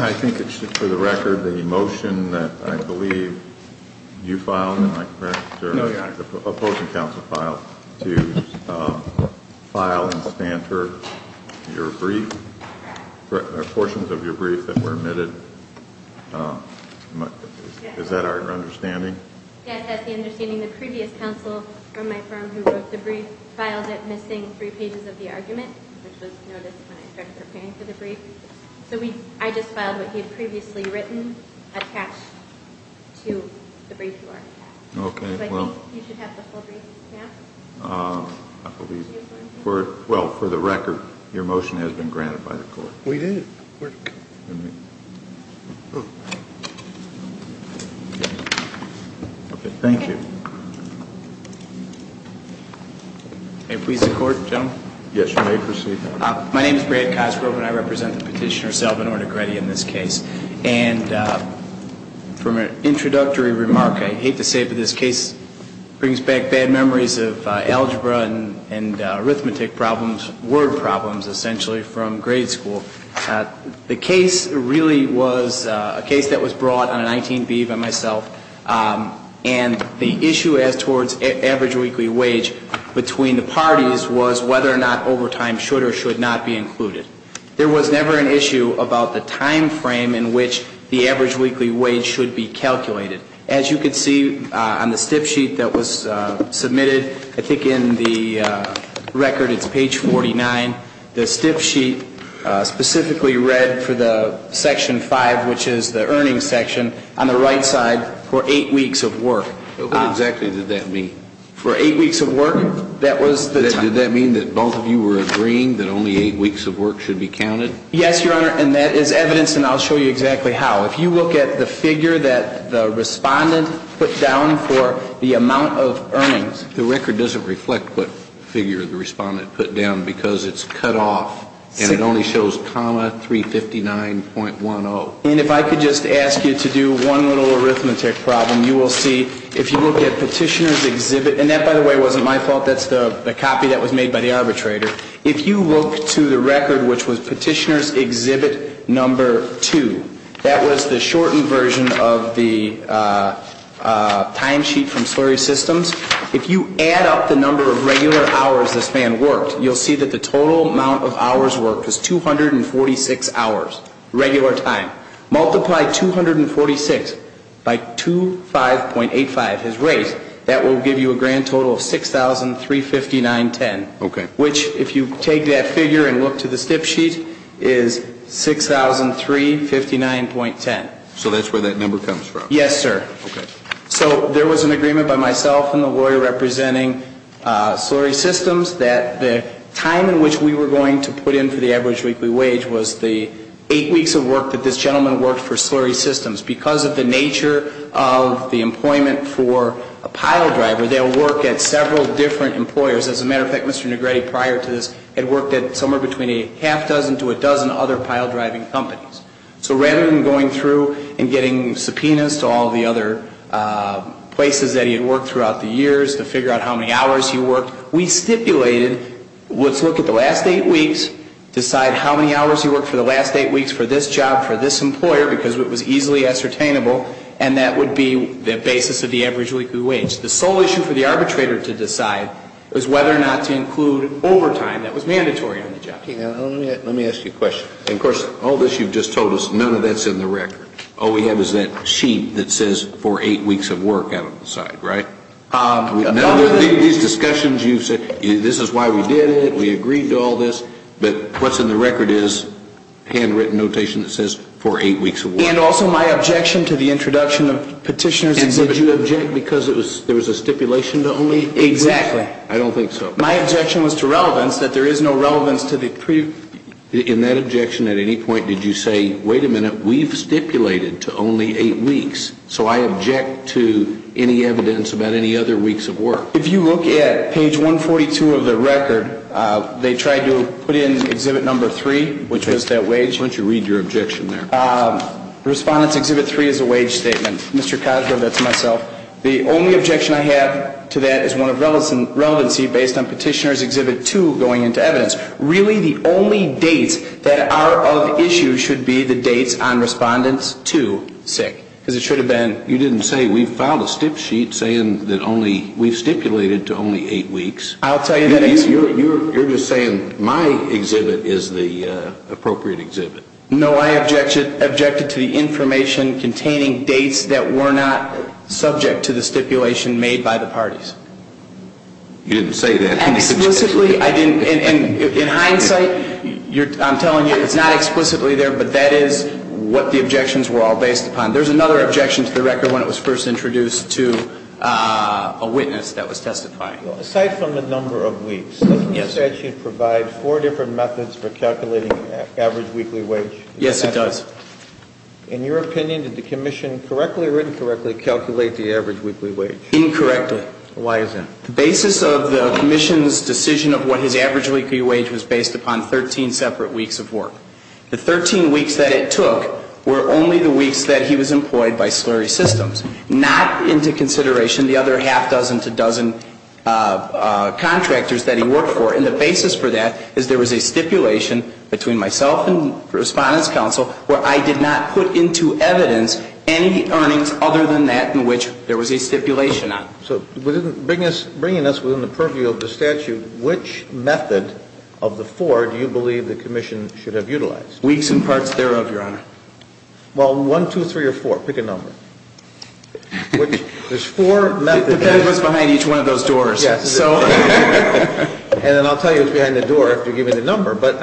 I think it's for the record the motion that I believe you filed, am I correct, sir? No, Your Honor. to file and spanter your brief, portions of your brief that were omitted. Is that our understanding? Yes, that's the understanding. The previous counsel from my firm who wrote the brief filed it missing three pages of the argument, which was noticed when I started preparing for the brief. So I just filed what he had previously written attached to the brief you already have. Okay, well. So I think you should have the full brief now. I believe it. Well, for the record, your motion has been granted by the court. We did. Okay, thank you. May it please the court, gentlemen? Yes, you may proceed. My name is Brad Cosgrove, and I represent the petitioner, Selvyn Ornegretti, in this case. And from an introductory remark, I hate to say it, but this case brings back bad memories of algebra and arithmetic problems, word problems, essentially, from grade school. The case really was a case that was brought on a 19B by myself. And the issue as towards average weekly wage between the parties was whether or not overtime should or should not be included. There was never an issue about the time frame in which the average weekly wage should be calculated. As you can see on the stiff sheet that was submitted, I think in the record, it's page 49. The stiff sheet specifically read for the section five, which is the earnings section, on the right side, for eight weeks of work. What exactly did that mean? For eight weeks of work, that was the time. Did that mean that both of you were agreeing that only eight weeks of work should be counted? Yes, Your Honor, and that is evidenced, and I'll show you exactly how. If you look at the figure that the respondent put down for the amount of earnings. The record doesn't reflect what figure the respondent put down because it's cut off, and it only shows comma 359.10. And if I could just ask you to do one little arithmetic problem, you will see, if you look at Petitioner's Exhibit, and that, by the way, wasn't my fault. That's the copy that was made by the arbitrator. If you look to the record, which was Petitioner's Exhibit number two, that was the shortened version of the timesheet from Slurry Systems. If you add up the number of regular hours this man worked, you'll see that the total amount of hours worked was 246 hours, regular time. Multiply 246 by 25.85, his rate, that will give you a grand total of 6,359.10. Okay. Which, if you take that figure and look to the stiff sheet, is 6,359.10. So that's where that number comes from? Yes, sir. Okay. So there was an agreement by myself and the lawyer representing Slurry Systems that the time in which we were going to put in for the average weekly wage was the eight weeks of work that this gentleman worked for Slurry Systems. Because of the nature of the employment for a pile driver, they'll work at several different employers. As a matter of fact, Mr. Negrete, prior to this, had worked at somewhere between a half dozen to a dozen other pile driving companies. So rather than going through and getting subpoenas to all the other places that he had worked throughout the years to figure out how many hours he worked, we stipulated, let's look at the last eight weeks, decide how many hours he worked for the last eight weeks for this job, for this employer, because it was easily ascertainable, and that would be the basis of the average weekly wage. The sole issue for the arbitrator to decide was whether or not to include overtime that was mandatory on the job. Let me ask you a question. And, of course, all this you've just told us, none of that's in the record. All we have is that sheet that says for eight weeks of work out on the side, right? None of these discussions you've said, this is why we did it, we agreed to all this. But what's in the record is handwritten notation that says for eight weeks of work. And also my objection to the introduction of petitioners. And did you object because there was a stipulation to only eight weeks? Exactly. I don't think so. My objection was to relevance, that there is no relevance to the previous. In that objection, at any point did you say, wait a minute, we've stipulated to only eight weeks, so I object to any evidence about any other weeks of work? If you look at page 142 of the record, they tried to put in exhibit number three, which was that wage. Why don't you read your objection there? Respondent's exhibit three is a wage statement. Mr. Cosgrove, that's myself. The only objection I have to that is one of relevancy based on petitioner's exhibit two going into evidence. Really the only dates that are of issue should be the dates on respondent's two sick. Because it should have been. You didn't say, we filed a stip sheet saying that only, we've stipulated to only eight weeks. I'll tell you that. You're just saying my exhibit is the appropriate exhibit. No, I objected to the information containing dates that were not subject to the stipulation made by the parties. You didn't say that. Explicitly, I didn't. In hindsight, I'm telling you, it's not explicitly there, but that is what the objections were all based upon. There's another objection to the record when it was first introduced to a witness that was testifying. Aside from the number of weeks. The statute provides four different methods for calculating average weekly wage. Yes, it does. In your opinion, did the commission correctly or incorrectly calculate the average weekly wage? Incorrectly. Why is that? The basis of the commission's decision of what his average weekly wage was based upon 13 separate weeks of work. The 13 weeks that it took were only the weeks that he was employed by slurry systems. Not into consideration the other half dozen to dozen contractors that he worked for. And the basis for that is there was a stipulation between myself and the Respondents' Council where I did not put into evidence any earnings other than that in which there was a stipulation on. So bringing us within the purview of the statute, which method of the four do you believe the commission should have utilized? Weeks and parts thereof, Your Honor. Well, one, two, three, or four. Pick a number. There's four methods. It was behind each one of those doors. Yes. And then I'll tell you it's behind the door if you give me the number. But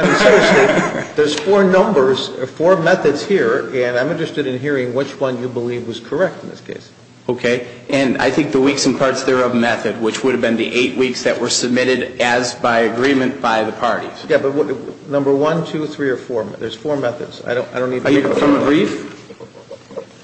there's four numbers, four methods here, and I'm interested in hearing which one you believe was correct in this case. Okay. And I think the weeks and parts thereof method, which would have been the eight weeks that were submitted as by agreement by the parties. Yeah, but number one, two, three, or four. There's four methods. I don't need to be brief.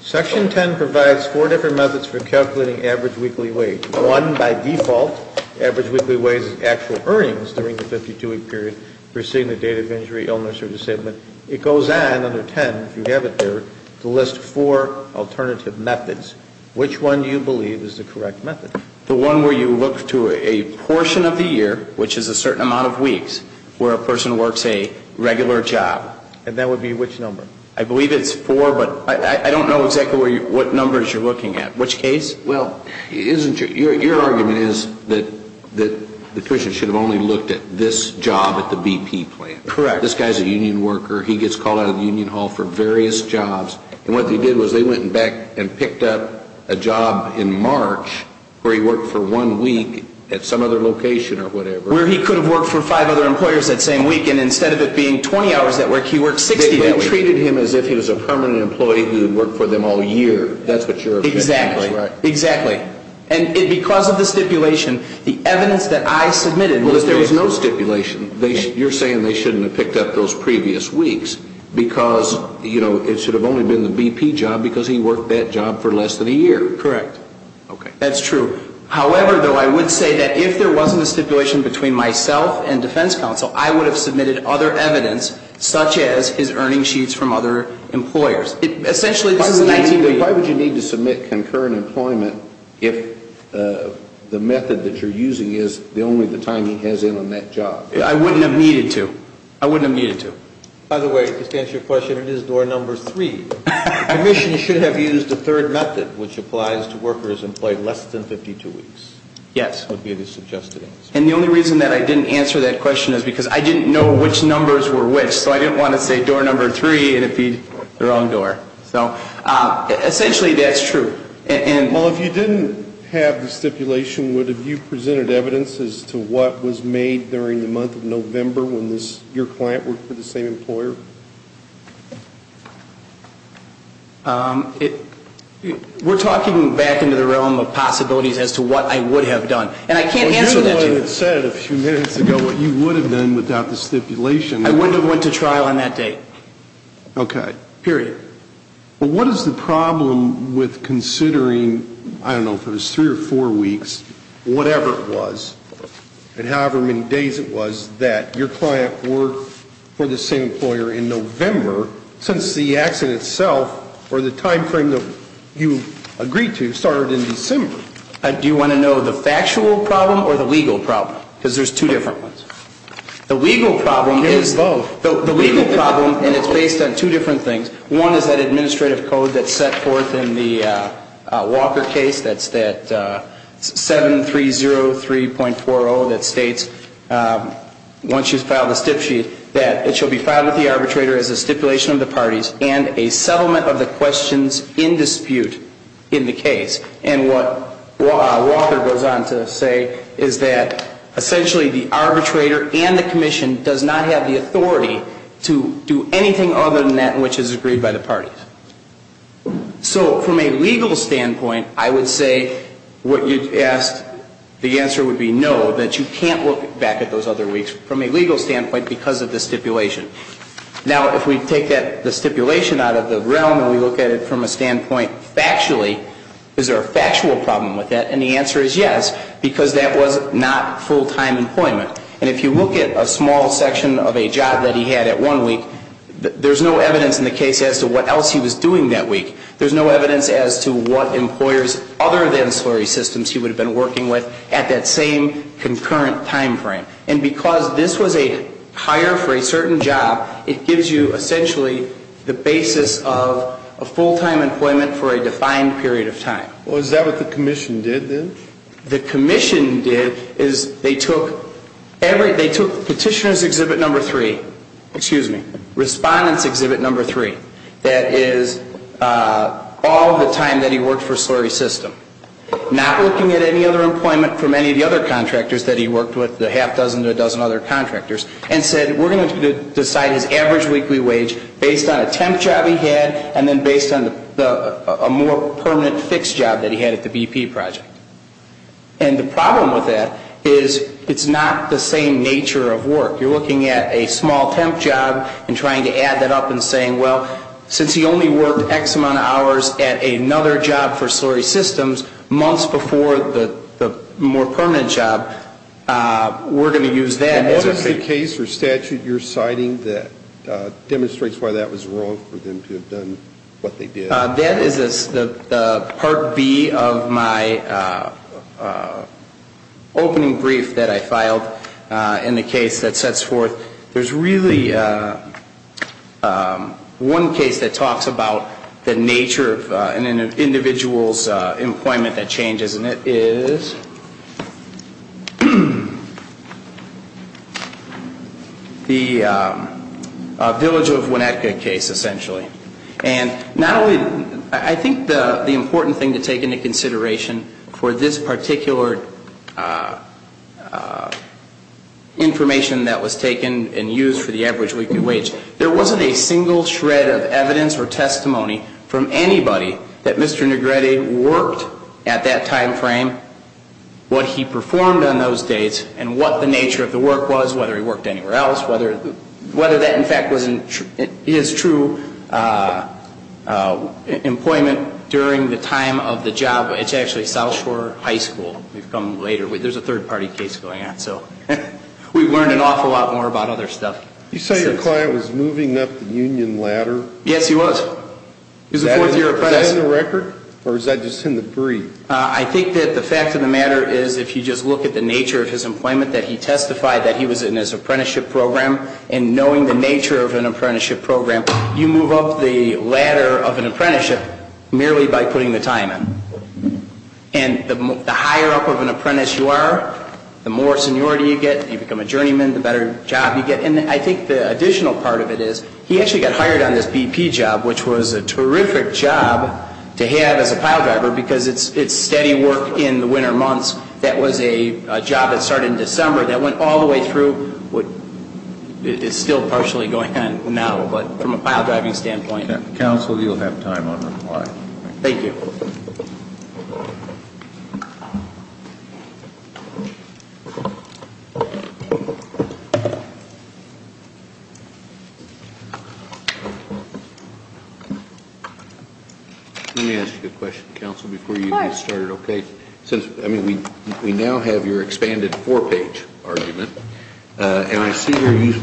Section 10 provides four different methods for calculating average weekly wage. One, by default, average weekly wage is actual earnings during the 52-week period preceding the date of injury, illness, or disablement. It goes on under 10, if you have it there, to list four alternative methods. Which one do you believe is the correct method? The one where you look to a portion of the year, which is a certain amount of weeks, where a person works a regular job. And that would be which number? I believe it's four, but I don't know exactly what numbers you're looking at. Which case? Well, your argument is that the tuition should have only looked at this job at the BP plant. Correct. This guy's a union worker. He gets called out of the union hall for various jobs. And what they did was they went back and picked up a job in March where he worked for one week at some other location or whatever. Where he could have worked for five other employers that same week. And instead of it being 20 hours at work, he worked 60 that week. They treated him as if he was a permanent employee who worked for them all year. That's what you're objecting to, right? Exactly. And because of the stipulation, the evidence that I submitted was that there was no stipulation. You're saying they shouldn't have picked up those previous weeks because, you know, it should have only been the BP job because he worked that job for less than a year. Correct. That's true. However, though, I would say that if there wasn't a stipulation between myself and defense counsel, I would have submitted other evidence such as his earning sheets from other employers. Why would you need to submit concurrent employment if the method that you're using is only the time he has in on that job? I wouldn't have needed to. I wouldn't have needed to. By the way, to answer your question, it is door number three. I wish you should have used the third method, which applies to workers employed less than 52 weeks. Yes. That would be the suggested answer. And the only reason that I didn't answer that question is because I didn't know which numbers were which. So I didn't want to say door number three and it would be the wrong door. So essentially that's true. Well, if you didn't have the stipulation, would you have presented evidence as to what was made during the month of November when your client worked for the same employer? We're talking back into the realm of possibilities as to what I would have done. And I can't answer that. Well, you said a few minutes ago what you would have done without the stipulation. I wouldn't have went to trial on that date. Okay. Period. Well, what is the problem with considering, I don't know, for those three or four weeks, whatever it was, and however many days it was, that your client worked for the same employer in November since the accident itself or the time frame that you agreed to started in December? Do you want to know the factual problem or the legal problem? Because there's two different ones. The legal problem is the legal problem, and it's based on two different things. One is that administrative code that's set forth in the Walker case. That's that 7303.40 that states, once you file the stip sheet, that it shall be filed with the arbitrator as a stipulation of the parties and a settlement of the questions in dispute in the case. And what Walker goes on to say is that essentially the arbitrator and the commission does not have the authority to do anything other than that which is agreed by the parties. So from a legal standpoint, I would say what you asked, the answer would be no, that you can't look back at those other weeks from a legal standpoint because of the stipulation. Now, if we take the stipulation out of the realm and we look at it from a standpoint factually, is there a factual problem with that? And the answer is yes, because that was not full-time employment. And if you look at a small section of a job that he had at one week, there's no evidence in the case as to what else he was doing that week. There's no evidence as to what employers other than slurry systems he would have been working with at that same concurrent time frame. And because this was a hire for a certain job, it gives you essentially the basis of a full-time employment for a defined period of time. Well, is that what the commission did then? The commission did is they took petitioner's exhibit number three, excuse me, respondent's exhibit number three, that is all the time that he worked for a slurry system. Not looking at any other employment from any of the other contractors that he worked with, the half dozen to a dozen other contractors, and said we're going to decide his average weekly wage based on a temp job he had and then based on a more permanent fixed job that he had at the BP project. And the problem with that is it's not the same nature of work. You're looking at a small temp job and trying to add that up and saying, well, since he only worked X amount of hours at another job for slurry systems, months before the more permanent job, we're going to use that. And what is the case or statute you're citing that demonstrates why that was wrong for them to have done what they did? That is the Part B of my opening brief that I filed in the case that sets forth. There's really one case that talks about the nature of an individual's employment that changes, and it is the Village of Winnetka case, essentially. And not only, I think the important thing to take into consideration for this particular information that was taken and used for the average weekly wage, there wasn't a single shred of evidence or testimony from anybody that Mr. Negrete worked at that time frame, what he performed on those dates, and what the nature of the work was, whether he worked anywhere else, whether that, in fact, is true employment during the time of the job. It's actually South Shore High School. We've come later. There's a third-party case going on. So we've learned an awful lot more about other stuff. You said your client was moving up the union ladder? Yes, he was. He was a fourth-year apprentice. Is that in the record, or is that just in the brief? I think that the fact of the matter is, if you just look at the nature of his employment, that he testified that he was in his apprenticeship program. And knowing the nature of an apprenticeship program, you move up the ladder of an apprenticeship merely by putting the time in. And the higher up of an apprentice you are, the more seniority you get, you become a journeyman, the better job you get. And I think the additional part of it is, he actually got hired on this BP job, which was a terrific job to have as a pile driver because it's steady work in the winter months. That was a job that started in December that went all the way through. It's still partially going on now, but from a pile driving standpoint. Counsel, you'll have time on reply. Thank you. Let me ask you a question, Counsel, before you get started. Okay. Since, I mean, we now have your expanded four-page argument, and I see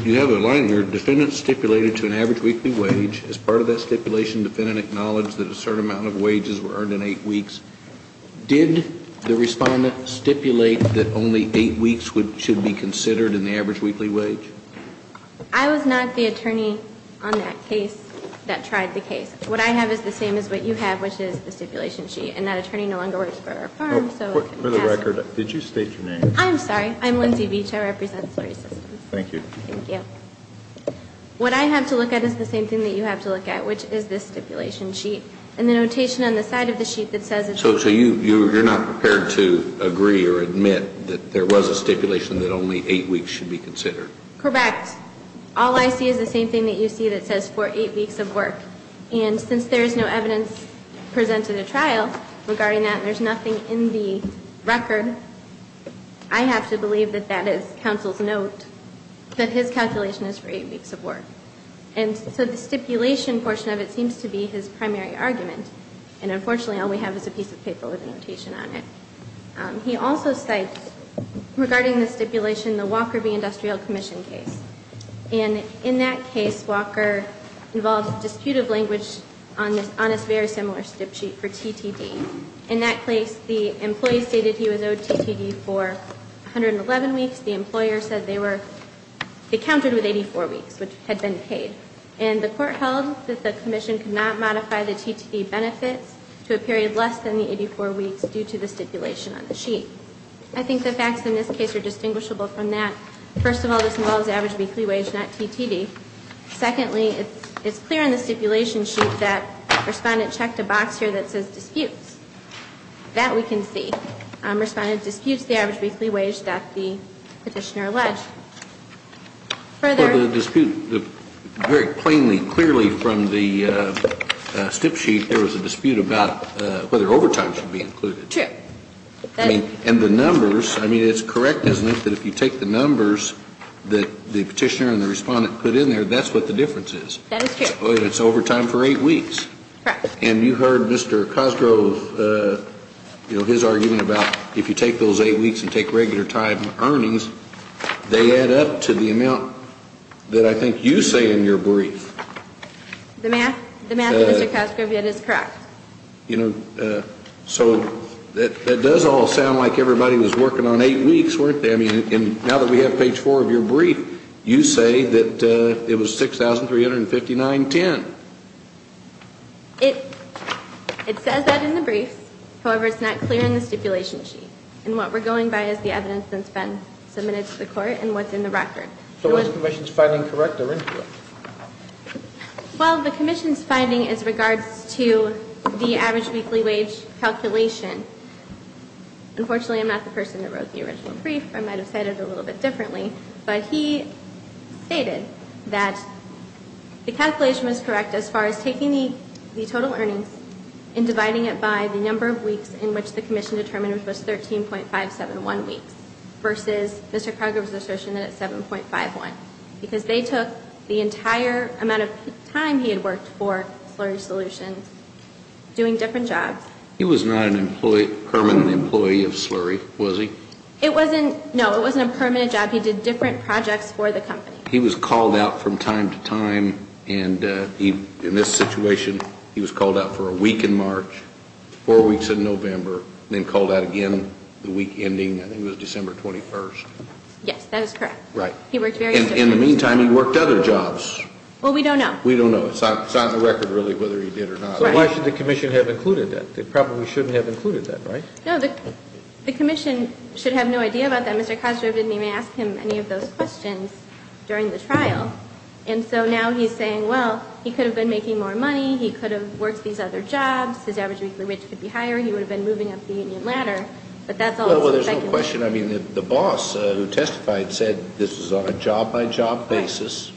you have a line here, defendant stipulated to an average weekly wage. As part of that stipulation, defendant acknowledged that a certain amount of wages were earned in eight weeks. Did the respondent stipulate that only eight weeks should be considered in the average weekly wage? I was not the attorney on that case that tried the case. What I have is the same as what you have, which is the stipulation sheet. And that attorney no longer works for our firm. For the record, did you state your name? I'm sorry. I'm Lindsay Beach. I represent Story Systems. Thank you. Thank you. What I have to look at is the same thing that you have to look at, which is this stipulation sheet. And the notation on the side of the sheet that says it's not. You're not prepared to agree or admit that there was a stipulation that only eight weeks should be considered. Correct. All I see is the same thing that you see that says for eight weeks of work. And since there is no evidence presented at trial regarding that and there's nothing in the record, I have to believe that that is counsel's note, that his calculation is for eight weeks of work. And so the stipulation portion of it seems to be his primary argument. And, unfortunately, all we have is a piece of paper with a notation on it. He also cites, regarding the stipulation, the Walker v. Industrial Commission case. And in that case, Walker involved a dispute of language on a very similar stip sheet for TTD. In that case, the employee stated he was owed TTD for 111 weeks. The employer said they counted with 84 weeks, which had been paid. And the court held that the commission could not modify the TTD benefits to a period less than the 84 weeks due to the stipulation on the sheet. I think the facts in this case are distinguishable from that. First of all, this involves average weekly wage, not TTD. Secondly, it's clear in the stipulation sheet that Respondent checked a box here that says disputes. That we can see. Respondent disputes the average weekly wage that the petitioner alleged. Further? For the dispute, very plainly, clearly from the stip sheet, there was a dispute about whether overtime should be included. True. And the numbers, I mean, it's correct, isn't it, that if you take the numbers that the petitioner and the Respondent put in there, that's what the difference is. That is true. It's overtime for eight weeks. Correct. And you heard Mr. Cosgrove, you know, his argument about if you take those eight weeks and take regular time earnings, they add up to the amount that I think you say in your brief. The math, Mr. Cosgrove, it is correct. You know, so that does all sound like everybody was working on eight weeks, weren't they? And now that we have page four of your brief, you say that it was 6,359.10. It says that in the brief. However, it's not clear in the stipulation sheet. And what we're going by is the evidence that's been submitted to the Court and what's in the record. So is the commission's finding correct or incorrect? Well, the commission's finding is regards to the average weekly wage calculation. Unfortunately, I'm not the person that wrote the original brief. I might have said it a little bit differently. But he stated that the calculation was correct as far as taking the total earnings and dividing it by the number of weeks in which the commission determined it was 13.571 weeks versus Mr. Cosgrove's assertion that it's 7.51 because they took the entire amount of time he had worked for Slurry Solutions doing different jobs. He was not a permanent employee of Slurry, was he? It wasn't. No, it wasn't a permanent job. He did different projects for the company. He was called out from time to time. And in this situation, he was called out for a week in March, four weeks in November, and then called out again the week ending, I think it was December 21st. Yes, that is correct. Right. In the meantime, he worked other jobs. Well, we don't know. We don't know. It's not in the record really whether he did or not. So why should the commission have included that? They probably shouldn't have included that, right? No, the commission should have no idea about that. Mr. Cosgrove didn't even ask him any of those questions during the trial. And so now he's saying, well, he could have been making more money. He could have worked these other jobs. His average weekly wage could be higher. He would have been moving up the union ladder. But that's all it's affecting. Well, there's no question. I mean, the boss who testified said this was on a job-by-job basis,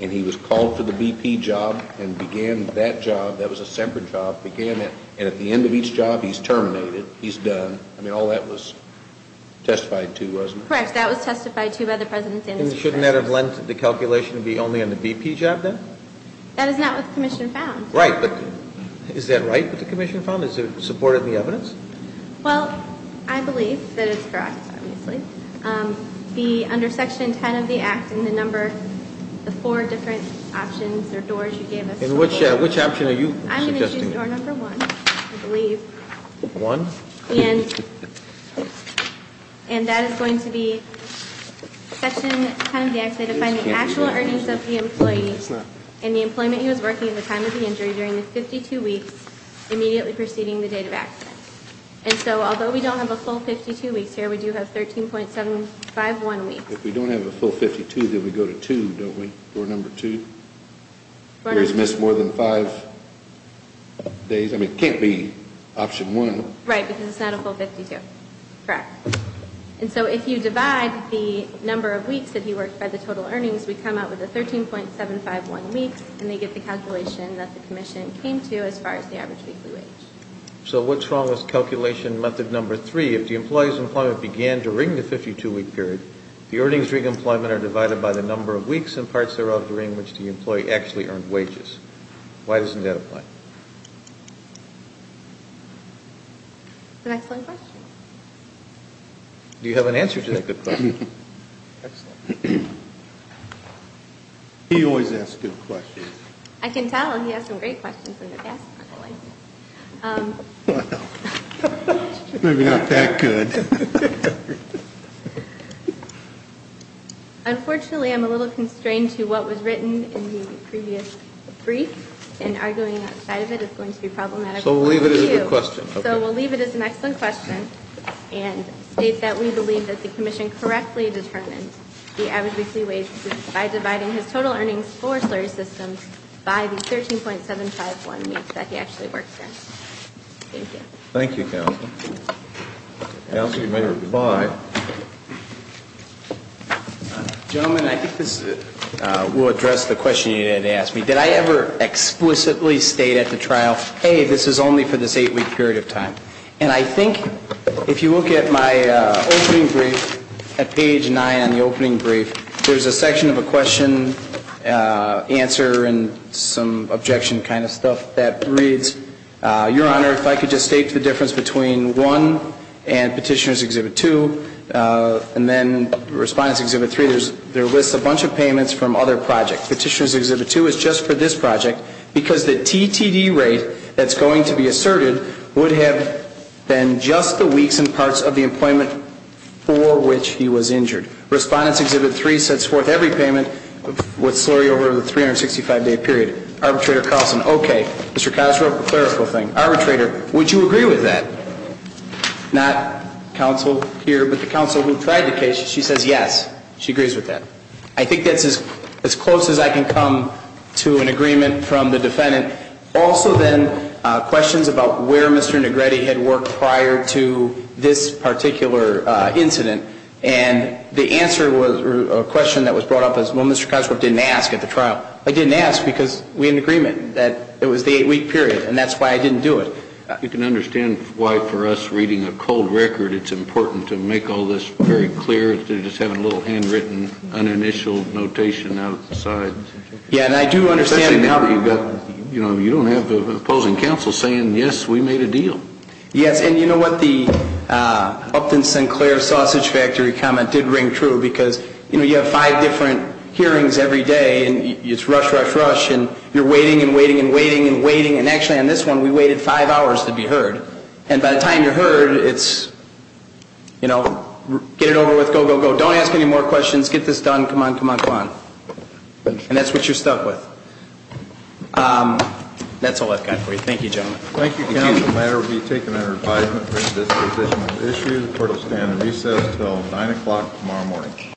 and he was called for the BP job and began that job. That was a separate job. And at the end of each job, he's terminated. He's done. I mean, all that was testified to, wasn't it? Correct. That was testified to by the President's answer. And shouldn't that have lent the calculation to be only on the BP job then? That is not what the commission found. Right. But is that right what the commission found? Is it supported in the evidence? Well, I believe that it's correct, obviously. And which option are you suggesting? I'm going to choose door number one, I believe. One? And that is going to be section 10 of the act, say to find the actual earnings of the employee and the employment he was working at the time of the injury during the 52 weeks immediately preceding the date of accident. And so although we don't have a full 52 weeks here, we do have 13.751 weeks. If we don't have a full 52, then we go to two, don't we, door number two? He was missed more than five days. I mean, it can't be option one. Right, because it's not a full 52. Correct. And so if you divide the number of weeks that he worked by the total earnings, we come out with a 13.751 weeks, and they get the calculation that the commission came to as far as the average weekly wage. So what's wrong with calculation method number three? If the employee's employment began during the 52-week period, the earnings during employment are divided by the number of weeks and parts thereof during which the employee actually earned wages. Why doesn't that apply? That's an excellent question. Do you have an answer to that good question? Excellent. He always asks good questions. I can tell. He has some great questions in the past. Well, maybe not that good. Unfortunately, I'm a little constrained to what was written in the previous brief, and arguing outside of it is going to be problematic for you. So we'll leave it as a question. So we'll leave it as an excellent question and state that we believe that the commission correctly determined the average weekly wage by dividing his total earnings for slurry systems by the 13.751 weeks that he actually worked in. Thank you. Thank you, counsel. Counsel, you may reply. Gentlemen, I think this will address the question you had asked me. Did I ever explicitly state at the trial, hey, this is only for this eight-week period of time? And I think if you look at my opening brief, at page nine on the opening brief, there's a section of a question, answer, and some objection kind of stuff that reads, Your Honor, if I could just state the difference between 1 and Petitioner's Exhibit 2, and then Respondent's Exhibit 3, there lists a bunch of payments from other projects. Petitioner's Exhibit 2 is just for this project because the TTD rate that's going to be asserted would have been just the weeks and parts of the employment for which he was injured. Respondent's Exhibit 3 sets forth every payment with slurry over the 365-day period. Arbitrator Carlson, okay. Mr. Cosgrove, a clerical thing. Arbitrator, would you agree with that? Not counsel here, but the counsel who tried the case, she says yes. She agrees with that. I think that's as close as I can come to an agreement from the defendant. Also, then, questions about where Mr. Negrete had worked prior to this particular incident. And the answer was a question that was brought up as, well, Mr. Cosgrove didn't ask at the trial. I didn't ask because we had an agreement that it was the eight-week period, and that's why I didn't do it. You can understand why, for us, reading a cold record, it's important to make all this very clear instead of just having a little handwritten, uninitialed notation outside. Yeah, and I do understand now that you don't have an opposing counsel saying, yes, we made a deal. Yes, and you know what? The Upton Sinclair Sausage Factory comment did ring true because, you know, you have five different hearings every day, and it's rush, rush, rush, and you're waiting and waiting and waiting and waiting, and actually on this one, we waited five hours to be heard. And by the time you're heard, it's, you know, get it over with, go, go, go. Don't ask any more questions. Get this done. Come on, come on, come on. And that's what you're stuck with. That's all I've got for you. Thank you, gentlemen. Thank you, counsel. The matter will be taken under advisement for indisposition of the issue. The court will stand at recess until 9 o'clock tomorrow morning.